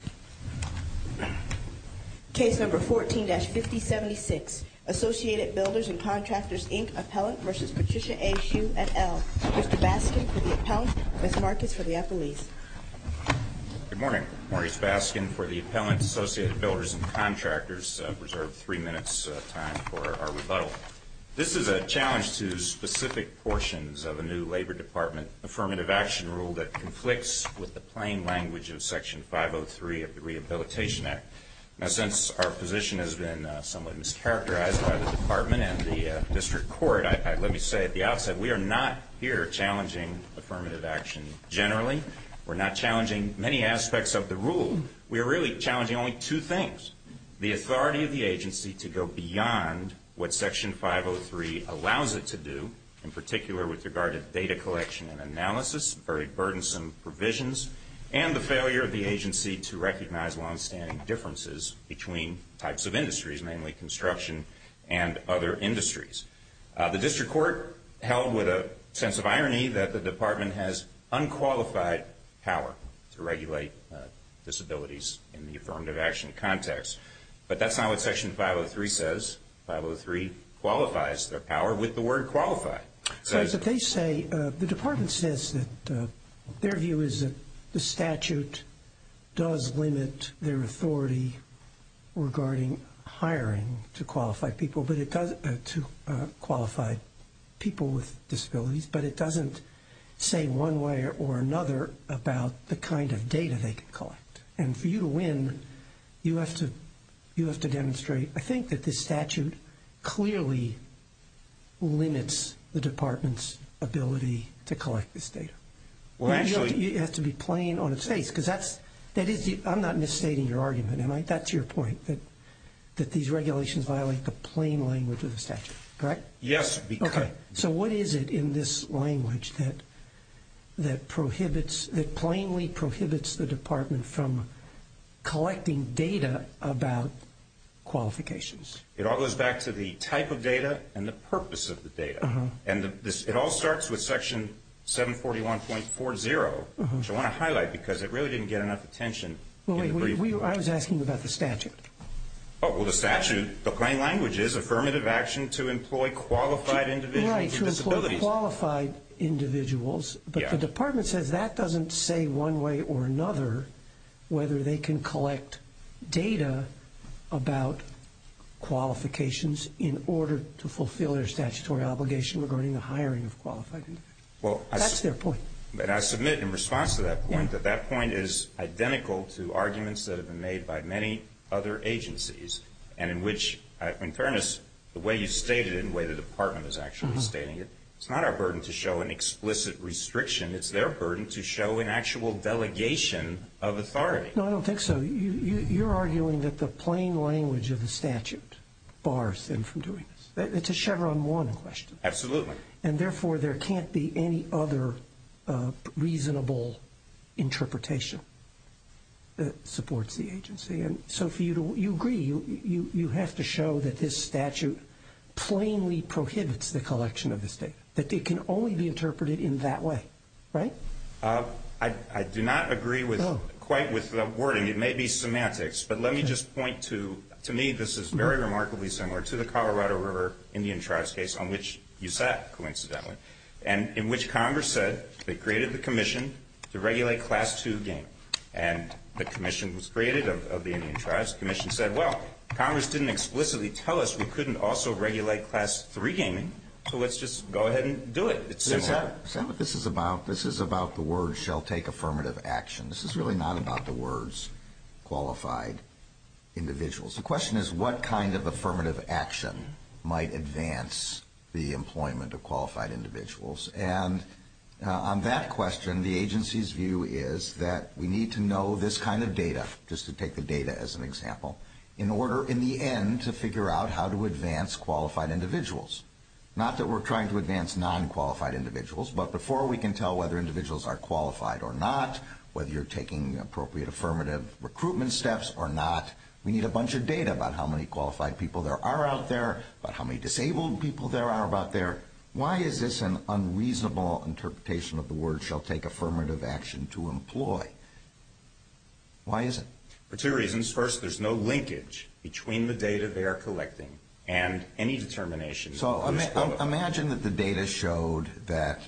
and L. Mr. Baskin for the appellant, Ms. Marcus for the appellees. Good morning. Maurice Baskin for the appellant, Associated Builders and Contractors. I've reserved three minutes time for our rebuttal. This is a challenge to specific portions of a new Labor Department Affirmative Action Rule that conflicts with the plain language of Section 503 of the Rehabilitation Act. Now, since our position has been somewhat mischaracterized by the Department and the District Court, let me say at the outset we are not here challenging affirmative action generally. We're not challenging many aspects of the rule. We are really challenging only two things, the authority of the agency to go beyond what Section 503 allows it to do, in particular with regard to data collection and analysis, very burdensome provisions, and the failure of the agency to recognize longstanding differences between types of industries, mainly construction and other industries. The District Court held with a sense of irony that the Department has unqualified power to regulate disabilities in the affirmative action context. But that's not what Section 503 says. 503 qualifies their power with the word qualified. So as they say, the Department says that their view is that the statute does limit their authority regarding hiring to qualify people with disabilities, but it doesn't say one way or another about the kind of data they can collect. And for you to win, you limit the Department's ability to collect this data. You have to be plain on its face. I'm not misstating your argument, am I? That's your point, that these regulations violate the plain language of the statute, correct? Yes. So what is it in this language that plainly prohibits the Department from collecting data about qualifications? It all goes back to the type of data and the purpose of the data. And it all starts with Section 741.40, which I want to highlight because it really didn't get enough attention. I was asking about the statute. Oh, well, the statute, the plain language is affirmative action to employ qualified individuals with disabilities. Right, to employ qualified individuals, but the Department says that doesn't say one way or another whether they can collect data about qualifications in order to fulfill their statutory obligation regarding the hiring of qualified individuals. That's their point. But I submit in response to that point that that point is identical to arguments that have been made by many other agencies and in which, in fairness, the way you stated it and the way the Department is actually stating it, it's not our burden to show an explicit restriction. It's their burden to show an actual delegation of authority. No, I don't think so. You're arguing that the plain language of the statute bars them from doing this. It's a Chevron 1 question. Absolutely. And therefore, there can't be any other reasonable interpretation that supports the agency. And so you agree, you have to show that this statute plainly prohibits the collection of this data, that it can only be interpreted in that way, right? I do not agree quite with the wording. It may be semantics. But let me just point to, to me, this is very remarkably similar to the Colorado River Indian Tribes case on which you sat, coincidentally, and in which Congress said they created the commission to regulate Class 2 gaming. And the commission was created of the Indian Tribes. The commission said, well, Congress didn't explicitly tell us we couldn't also regulate Class 3 gaming, so let's just go ahead and do it. It's similar. Sam, this is about, this is about the word shall take affirmative action. This is really not about the words qualified individuals. The question is what kind of affirmative action might advance the employment of qualified individuals? And on that question, the agency's view is that we need to know this kind of data, just to take the data as an example, in order, in the end, to figure out how to advance qualified individuals. Not that we're trying to advance non-qualified individuals, but before we can tell whether individuals are qualified or not, whether you're taking appropriate affirmative recruitment steps or not, we need a bunch of data about how many qualified people there are out there, about how many disabled people there are out there. Why is this an unreasonable interpretation of the word shall take affirmative action to employ? Why is it? For two reasons. First, there's no linkage between the data they are collecting and any determination. So, imagine that the data showed that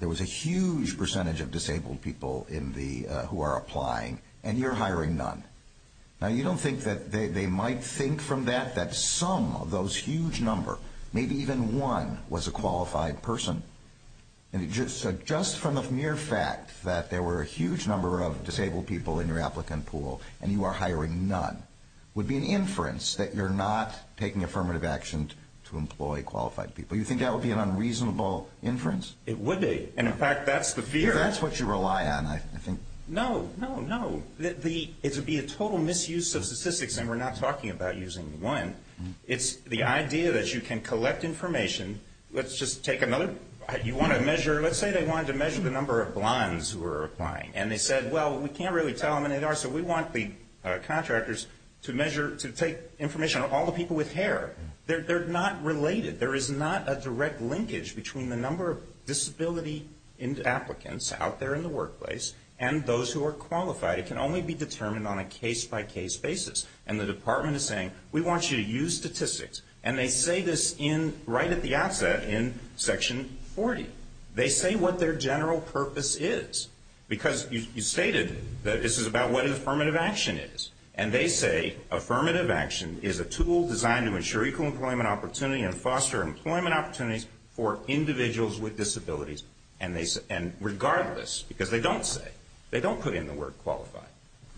there was a huge percentage of disabled people in the, who are applying, and you're hiring none. Now, you don't think that they might think from that that some of those huge number, maybe even one, was a qualified person? And just from the mere fact that there were a huge number of disabled people in your applicant pool, and you are hiring none, would be an inference that you're not taking affirmative action to employ qualified people. You think that would be an unreasonable inference? It would be. And, in fact, that's the fear. That's what you rely on, I think. No, no, no. It would be a total misuse of statistics, and we're not talking about using It's the idea that you can collect information. Let's just take another, you want to measure, let's say they wanted to measure the number of blondes who are applying, and they said, well, we can't really tell how many there are, so we want the contractors to measure, to take information on all the people with hair. They're not related. There is not a direct linkage between the number of disability applicants out there in the workplace and those who are qualified. It can only be determined on a case-by-case basis. And the department is saying, we want you to use statistics, and they say this right at the outset in Section 40. They say what their general purpose is, because you stated that this is about what affirmative action is, and they say affirmative action is a tool designed to ensure equal employment opportunity and foster employment opportunities for individuals with disabilities, and regardless, because they don't say, they don't put in the word qualified,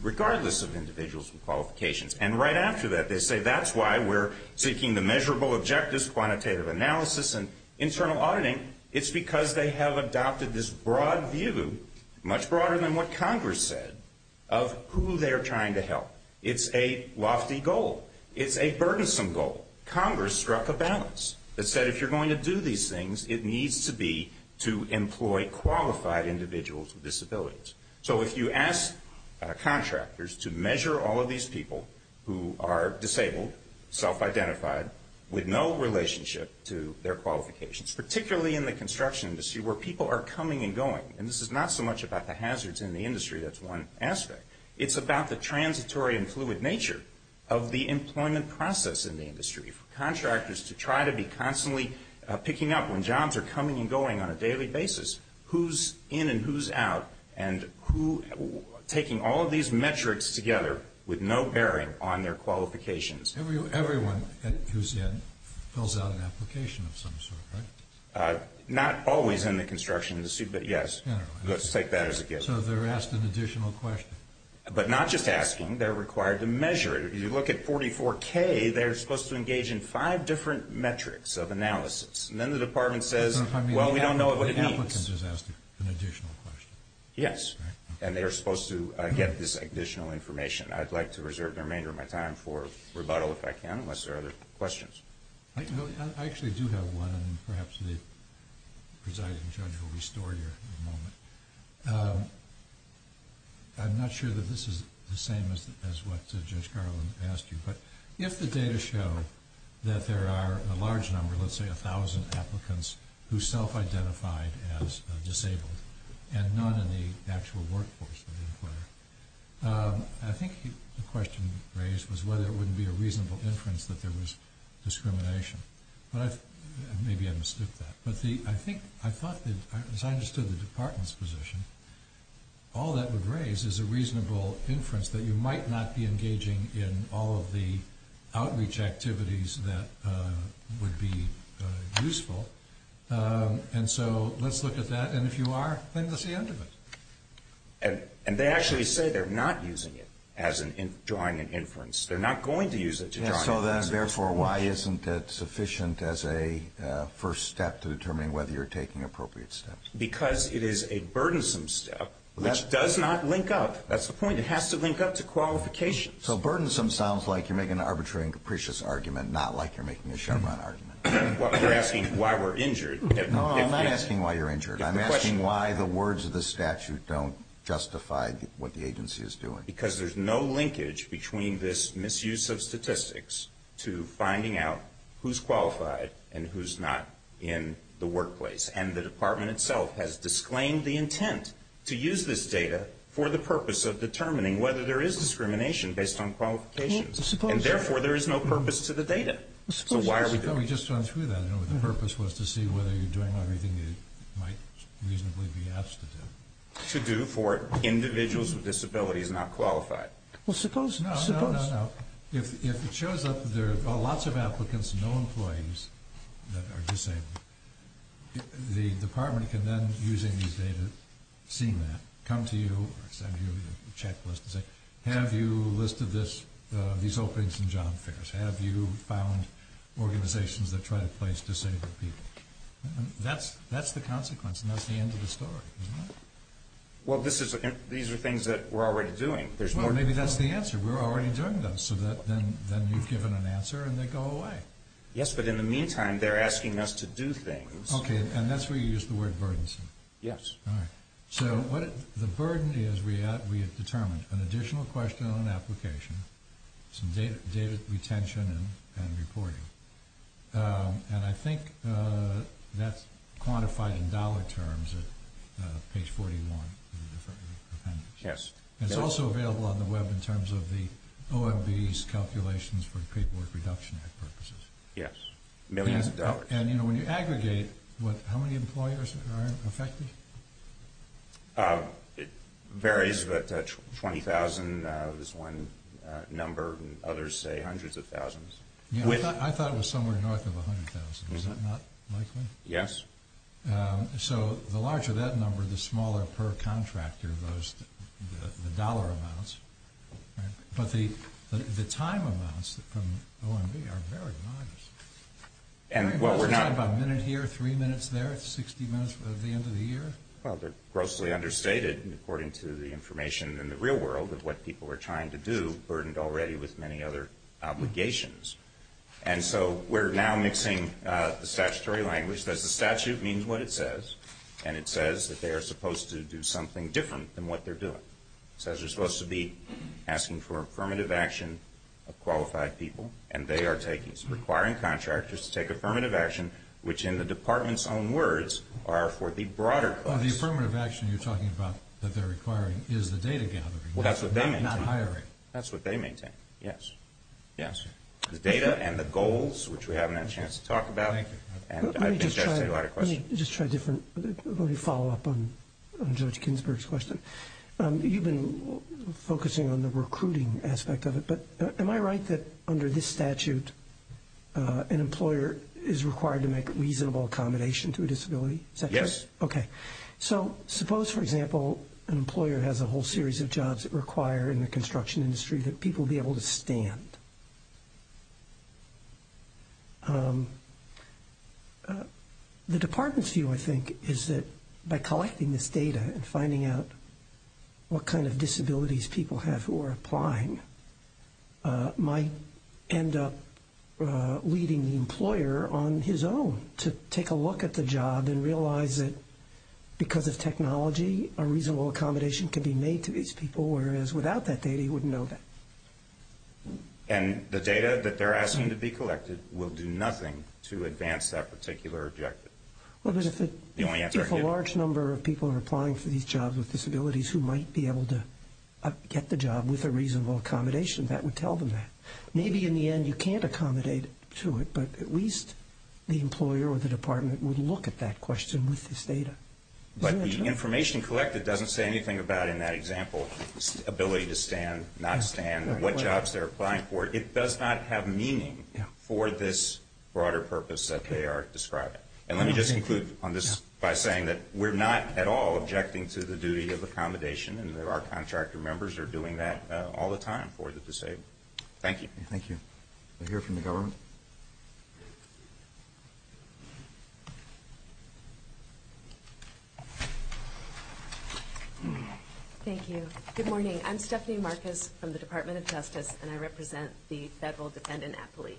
regardless of individuals with qualifications. And right after that, they say that's why we're seeking the measurable objectives, quantitative analysis, and internal auditing. It's because they have adopted this broad view, much broader than what Congress said, of who they're trying to help. It's a lofty goal. It's a burdensome goal. Congress struck a balance that said if you're going to do these things, it needs to be to employ qualified individuals with disabilities, to measure all of these people who are disabled, self-identified, with no relationship to their qualifications, particularly in the construction industry, where people are coming and going. And this is not so much about the hazards in the industry, that's one aspect. It's about the transitory and fluid nature of the employment process in the industry, for contractors to try to be constantly picking up when jobs are coming and going on a daily basis, who's in and who's out, and who, taking all of these metrics together, with no bearing on their qualifications. Everyone who's in fills out an application of some sort, right? Not always in the construction industry, but yes. Let's take that as a given. So they're asked an additional question? But not just asking. They're required to measure it. If you look at 44K, they're supposed to engage in five different metrics of analysis. And then the Department says, well, we don't know what it means. So the applicants are asked an additional question? Yes. And they are supposed to get this additional information. I'd like to reserve the remainder of my time for rebuttal, if I can, unless there are other questions. I actually do have one, and perhaps the presiding judge will restore you in a moment. I'm not sure that this is the same as what Judge Garland asked you, but if the data show that there workforce of the inquirer. I think the question raised was whether it wouldn't be a reasonable inference that there was discrimination. Maybe I mistook that. But I think, as I understood the Department's position, all that would raise is a reasonable inference that you might not be engaging in all of the outreach activities that would be useful. And so let's look at that. And if you are, then that's the end of it. And they actually say they're not using it as in drawing an inference. They're not going to use it to draw an inference. So then, therefore, why isn't it sufficient as a first step to determine whether you're taking appropriate steps? Because it is a burdensome step, which does not link up. That's the point. It has to link up to qualifications. So burdensome sounds like you're making an arbitrary and capricious argument, not like you're making a Chevron argument. Well, you're asking why we're injured. No, I'm not asking why you're injured. I'm asking why the words of the statute don't justify what the agency is doing. Because there's no linkage between this misuse of statistics to finding out who's qualified and who's not in the workplace. And the Department itself has disclaimed the intent to use this data for the purpose of determining whether there is discrimination based on qualifications. And, therefore, there is no purpose to the data. So why are we doing it? No, we just went through that. The purpose was to see whether you're doing everything you might reasonably be asked to do. To do for individuals with disabilities not qualified. Well, suppose... No, no, no, no. If it shows up that there are lots of applicants and no employees that are disabled, the Department can then, using this data, see that, come to you, send you a checklist and say, have you listed these openings and job fairs? Have you found organizations that try to place disabled people? That's the consequence, and that's the end of the story. Well, these are things that we're already doing. Well, maybe that's the answer. We're already doing those. So then you've given an answer and they go away. Yes, but in the meantime, they're asking us to do things. Okay, and that's where you use the word burdensome. Yes. So, the burden is we have determined an additional question on application, some data retention and reporting. And I think that's quantified in dollar terms at page 41. Yes. And it's also available on the web in terms of the OMB's calculations for the Payboard Reduction Act purposes. Yes. Millions of dollars. And, you know, when you aggregate, how many employers are affected? It varies, but 20,000 is one number, and others say hundreds of thousands. I thought it was somewhere north of 100,000. Is that not likely? Yes. So, the larger that number, the smaller per contractor the dollar amounts. But the time amounts from OMB are very modest. Very modest? We're talking about a minute here, three minutes there, 60 minutes at the end of the year? Well, they're grossly understated according to the information in the real world of what people are trying to do, burdened already with many other obligations. And so we're now mixing the statutory language. The statute means what it says, and it says that they are supposed to do something different than what they're doing. It says they're supposed to be asking for affirmative action of qualified people, and they are requiring contractors to take affirmative action, which in the Department's own words are for the broader class. The affirmative action you're talking about that they're requiring is the data gathering, not hiring. That's what they maintain. Yes. Yes. The data and the goals, which we haven't had a chance to talk about. Thank you. Let me just try a different, let me follow up on Judge Ginsburg's question. You've been focusing on the recruiting aspect of it, but am I right that under this statute an employer is required to make reasonable accommodation to a disability? Is that correct? Yes. Okay. So suppose, for example, an employer has a whole series of jobs that require in the construction industry that people be able to stand. The Department's view, I think, is that by collecting this data and finding out what kind of disabilities people have who are applying might end up leading the employer on his own to take a look at the job and realize that because of technology a reasonable accommodation can be made to these people, whereas without that data he wouldn't know that. And the data that they're asking to be collected will do nothing to advance that particular objective. Well, but if a large number of people are applying for these jobs with disabilities who might be able to get the job with a reasonable accommodation, that would tell them that. Maybe in the end you can't accommodate to it, but at least the employer or the Department would look at that question with this data. But the information collected doesn't say anything about, in that example, ability to stand, not stand, what jobs they're applying for. It does not have meaning for this broader purpose that they are describing. And let me just conclude on this by saying that we're not at all objecting to the duty of accommodation, and our contractor members are doing that all the time for the disabled. Thank you. Thank you. We'll hear from the government. Thank you. Good morning. I'm Stephanie Marcus from the Department of Justice, and I represent the federal defendant at police.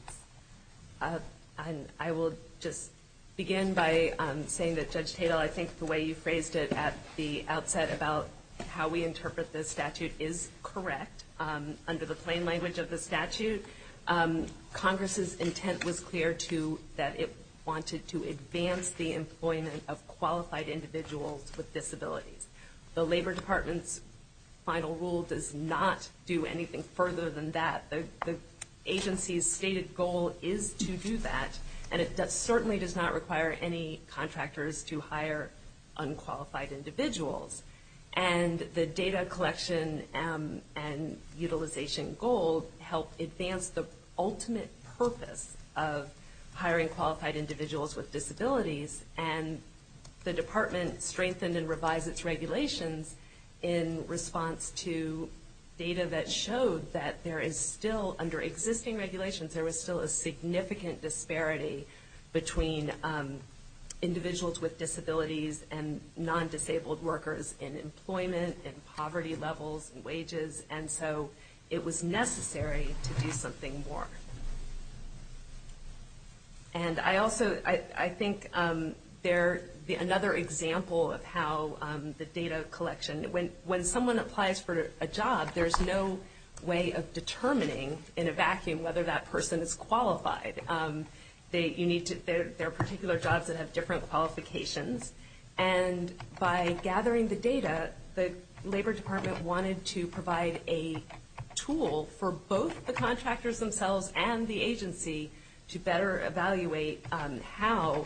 And I will just begin by saying that, Judge Tatel, I think the way you phrased it at the outset about how we interpret this statute is correct. Under the plain language of the statute, Congress's intent was clear to that it wanted to advance the employment of qualified individuals with disabilities. The Labor Department's final rule does not do anything further than that. The agency's stated goal is to do that, and it certainly does not require any contractors to hire unqualified individuals. And the data collection and utilization goal helped advance the ultimate purpose of hiring qualified individuals with disabilities, and the department strengthened and revised its regulations in response to data that showed that there is still, under existing regulations, there was still a significant disparity between individuals with disabilities and non-disabled workers in employment, in poverty levels, in wages, and so it was necessary to do something more. And I also, I think another example of how the data collection, when someone applies for a job, there's no way of determining in a vacuum whether that person is qualified. There are particular jobs that have different qualifications, and by gathering the data, the Labor Department wanted to provide a tool for both the contractors themselves and the agency to better evaluate how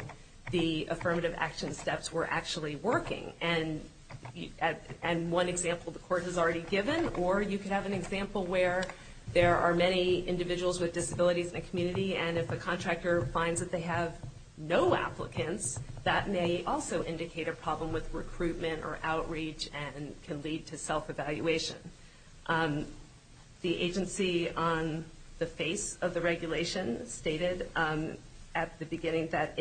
the affirmative action steps were actually working. And one example the court has already given, or you could have an example where there are many individuals with disabilities in a community, and if a contractor finds that they have no self-evaluation. The agency on the face of the regulation stated at the beginning that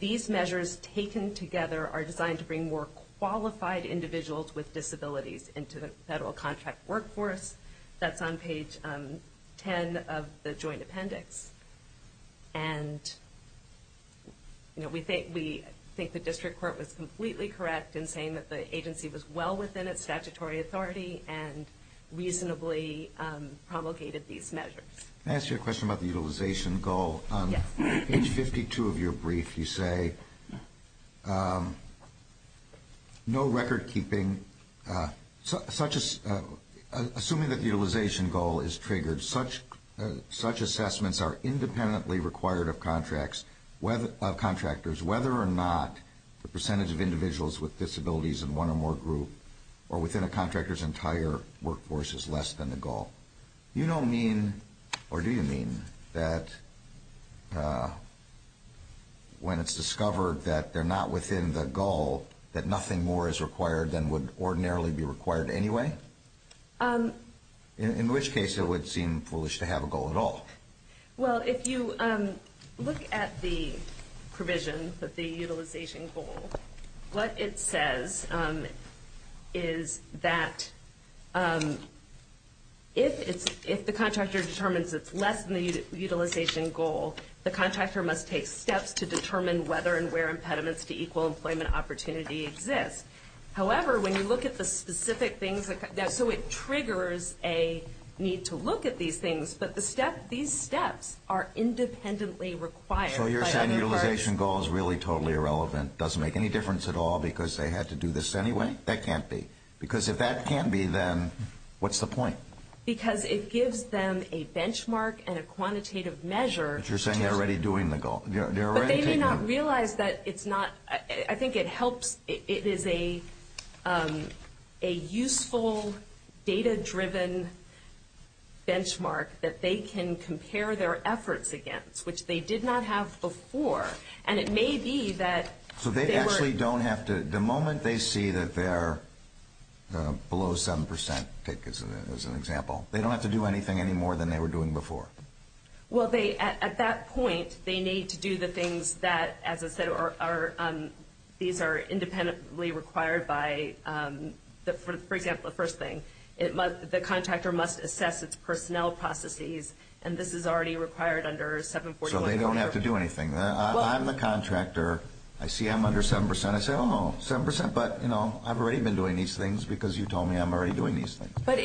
these measures taken together are designed to bring more qualified individuals with disabilities into the federal contract workforce. That's on page 10 of the joint appendix. And we think the district court was completely correct in saying that the agency was well within its statutory authority and reasonably promulgated these measures. Can I ask you a question about the utilization goal? Yes. On page 52 of your brief you say, no record keeping, assuming that the utilization goal is triggered, such assessments are independently required of contractors, whether or not the percentage of individuals with disabilities in one or more groups or within a contractor's entire workforce is less than the goal. You don't mean, or do you mean, that when it's discovered that they're not within the goal, that nothing more is required than would ordinarily be required anyway? In which case, it would seem foolish to have a goal at all. Well, if you look at the provision of the utilization goal, what it says is that if the contractor determines it's less than the utilization goal, the contractor must take steps to determine whether and where impediments to equal employment opportunity exist. However, when you look at the specific things, so it triggers a need to look at these things, but these steps are independently required. So you're saying the utilization goal is really totally irrelevant, doesn't make any difference at all because they had to do this anyway? That can't be. Because if that can't be, then what's the point? Because it gives them a benchmark and a quantitative measure. But you're saying they're already doing the goal. But they may not realize that it's not, I think it helps, it is a useful data-driven benchmark that they can compare their efforts against, which they did not have before. And it may be that they were. So they actually don't have to, the moment they see that they're below 7%, take as an example, they don't have to do anything any more than they were doing before? Well, at that point, they need to do the things that, as I said, these are independently required by, for example, the first thing, the contractor must assess its personnel processes, and this is already required under 741. So they don't have to do anything. I'm the contractor. I see I'm under 7%. I say, oh, no, 7%, but I've already been doing these things because you told me I'm already doing these things. But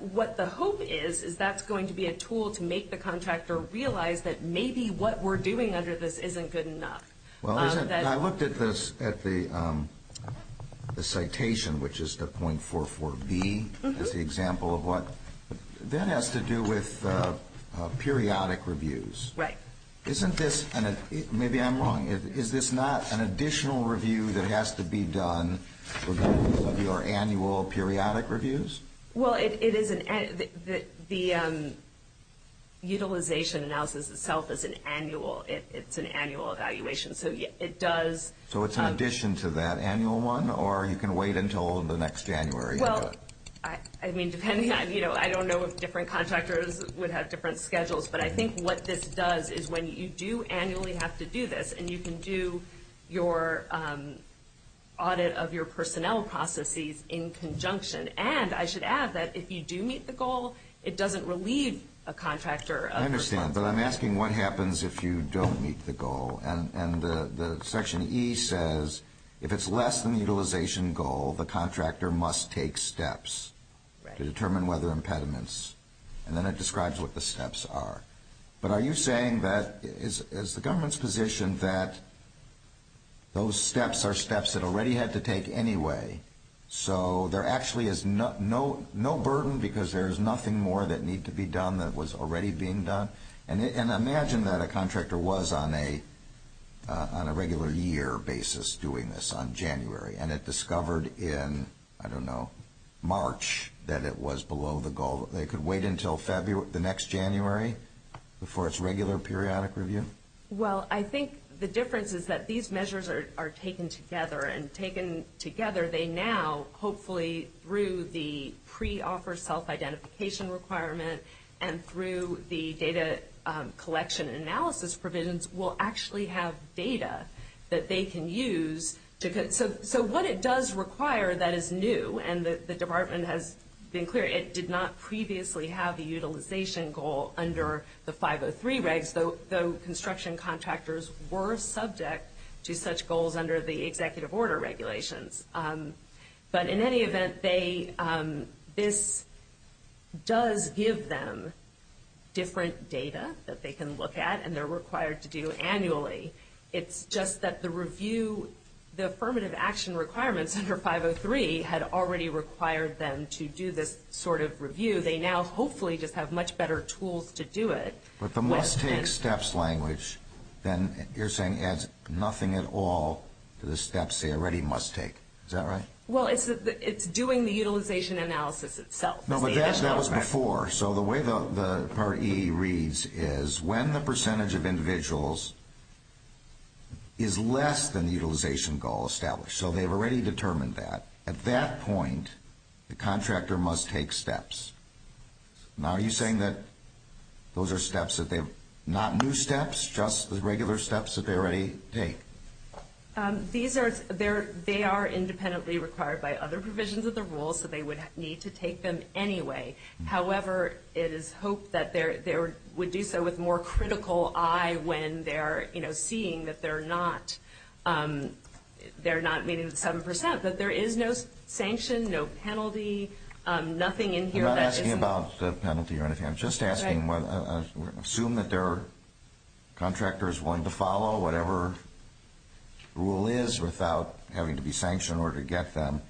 what the hope is, is that's going to be a tool to make the contractor realize that maybe what we're doing under this isn't good enough. Well, I looked at this, at the citation, which is the .44B, as the example of what, that has to do with periodic reviews. Right. Isn't this, maybe I'm wrong, is this not an additional review that has to be done regardless of your annual periodic reviews? Well, it is an, the utilization analysis itself is an annual, it's an annual evaluation. So it does. So it's in addition to that annual one, or you can wait until the next January? Well, I mean, depending on, you know, I don't know if different contractors would have different schedules, but I think what this does is when you do annually have to do this, and you can audit of your personnel processes in conjunction. And I should add that if you do meet the goal, it doesn't relieve a contractor of their responsibility. I understand, but I'm asking what happens if you don't meet the goal. And the Section E says, if it's less than the utilization goal, the contractor must take steps to determine whether impediments. And then it describes what the steps are. But are you saying that, is the government's position that those steps are steps it already had to take anyway? So there actually is no burden because there is nothing more that needs to be done that was already being done? And imagine that a contractor was on a regular year basis doing this on January, and it discovered in, I don't know, March, that it was below the goal. They could wait until the next January before its regular periodic review? Well, I think the difference is that these measures are taken together. And taken together, they now, hopefully through the pre-offer self-identification requirement and through the data collection and analysis provisions, will actually have data that they can use. So what it does require that is new, and the department has been clear, it did not previously have the utilization goal under the 503 regs, though construction contractors were subject to such goals under the executive order regulations. But in any event, this does give them different data that they can look at and they're required to do annually. It's just that the review, the affirmative action requirements under 503 had already required them to do this sort of review. They now, hopefully, just have much better tools to do it. But the must-take steps language then you're saying adds nothing at all to the steps they already must take. Is that right? Well, it's doing the utilization analysis itself. No, but that was before. So the way the Part E reads is when the percentage of individuals is less than the utilization goal established. So they've already determined that. At that point, the contractor must take steps. Now, are you saying that those are steps that they've, not new steps, just the regular steps that they already take? These are, they are independently required by other provisions of the rules, so they would need to take them anyway. However, it is hoped that they would do so with more critical eye when they're, you know, seeing that they're not meeting the 7%. But there is no sanction, no penalty, nothing in here that isn't. I'm not asking about the penalty or anything. I'm just asking, assume that they're contractors willing to follow whatever rule is without having to be sanctioned in order to get them.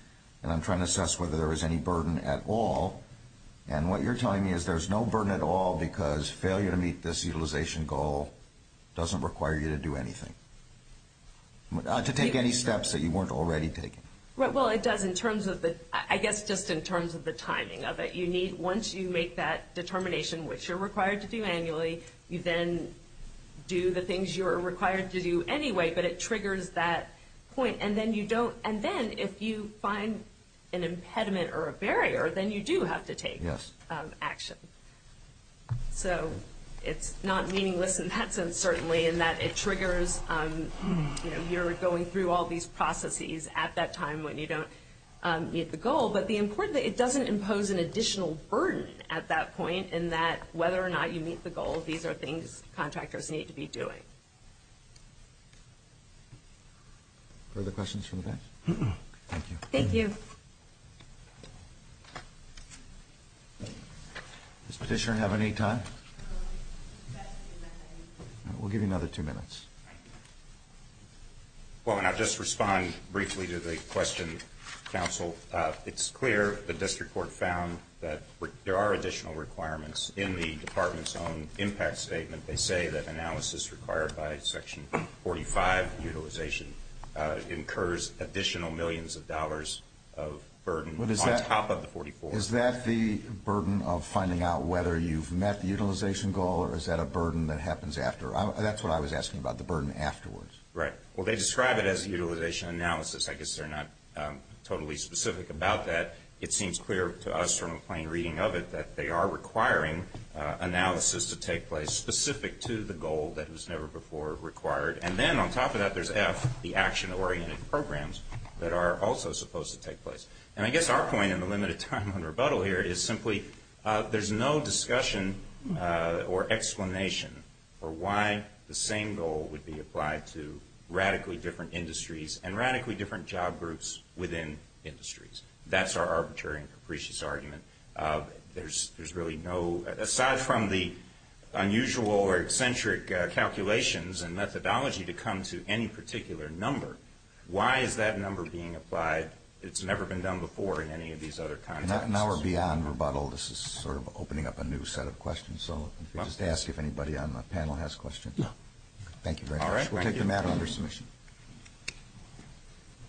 And I'm trying to assess whether there is any burden at all. And what you're telling me is there's no burden at all because failure to meet this utilization goal doesn't require you to do anything. To take any steps that you weren't already taking. Well, it does in terms of the, I guess just in terms of the timing of it. You need, once you make that determination, which you're required to do annually, you then do the things you're required to do anyway, but it triggers that point. And then you don't, and then if you find an impediment or a barrier, then you do have to take action. So it's not meaningless in that sense, certainly, in that it triggers, you know, you're going through all these processes at that time when you don't meet the goal. But the important thing, it doesn't impose an additional burden at that point in that whether or not you meet the goal, these are things contractors need to be doing. Further questions from the back? Thank you. Thank you. Does Petitioner have any time? We'll give you another two minutes. Well, it's clear the district court found that there are additional requirements in the department's own impact statement. They say that analysis required by Section 45 utilization incurs additional millions of dollars of burden on top of the 44. Is that the burden of finding out whether you've met the utilization goal, or is that a burden that happens after? That's what I was asking about, the burden afterwards. Right. Well, they describe it as utilization analysis. I guess they're not totally specific about that. It seems clear to us from a plain reading of it that they are requiring analysis to take place specific to the goal that was never before required. And then on top of that, there's F, the action-oriented programs that are also supposed to take place. And I guess our point in the limited time on rebuttal here is simply there's no discussion or explanation for why the same goal would be applied to radically different industries and radically different job groups within industries. That's our arbitrary and capricious argument. There's really no, aside from the unusual or eccentric calculations and methodology to come to any particular number, why is that number being applied? It's never been done before in any of these other contexts. All right. Now we're beyond rebuttal. This is sort of opening up a new set of questions. So let me just ask if anybody on the panel has questions. No. Thank you very much. We'll take the matter under submission.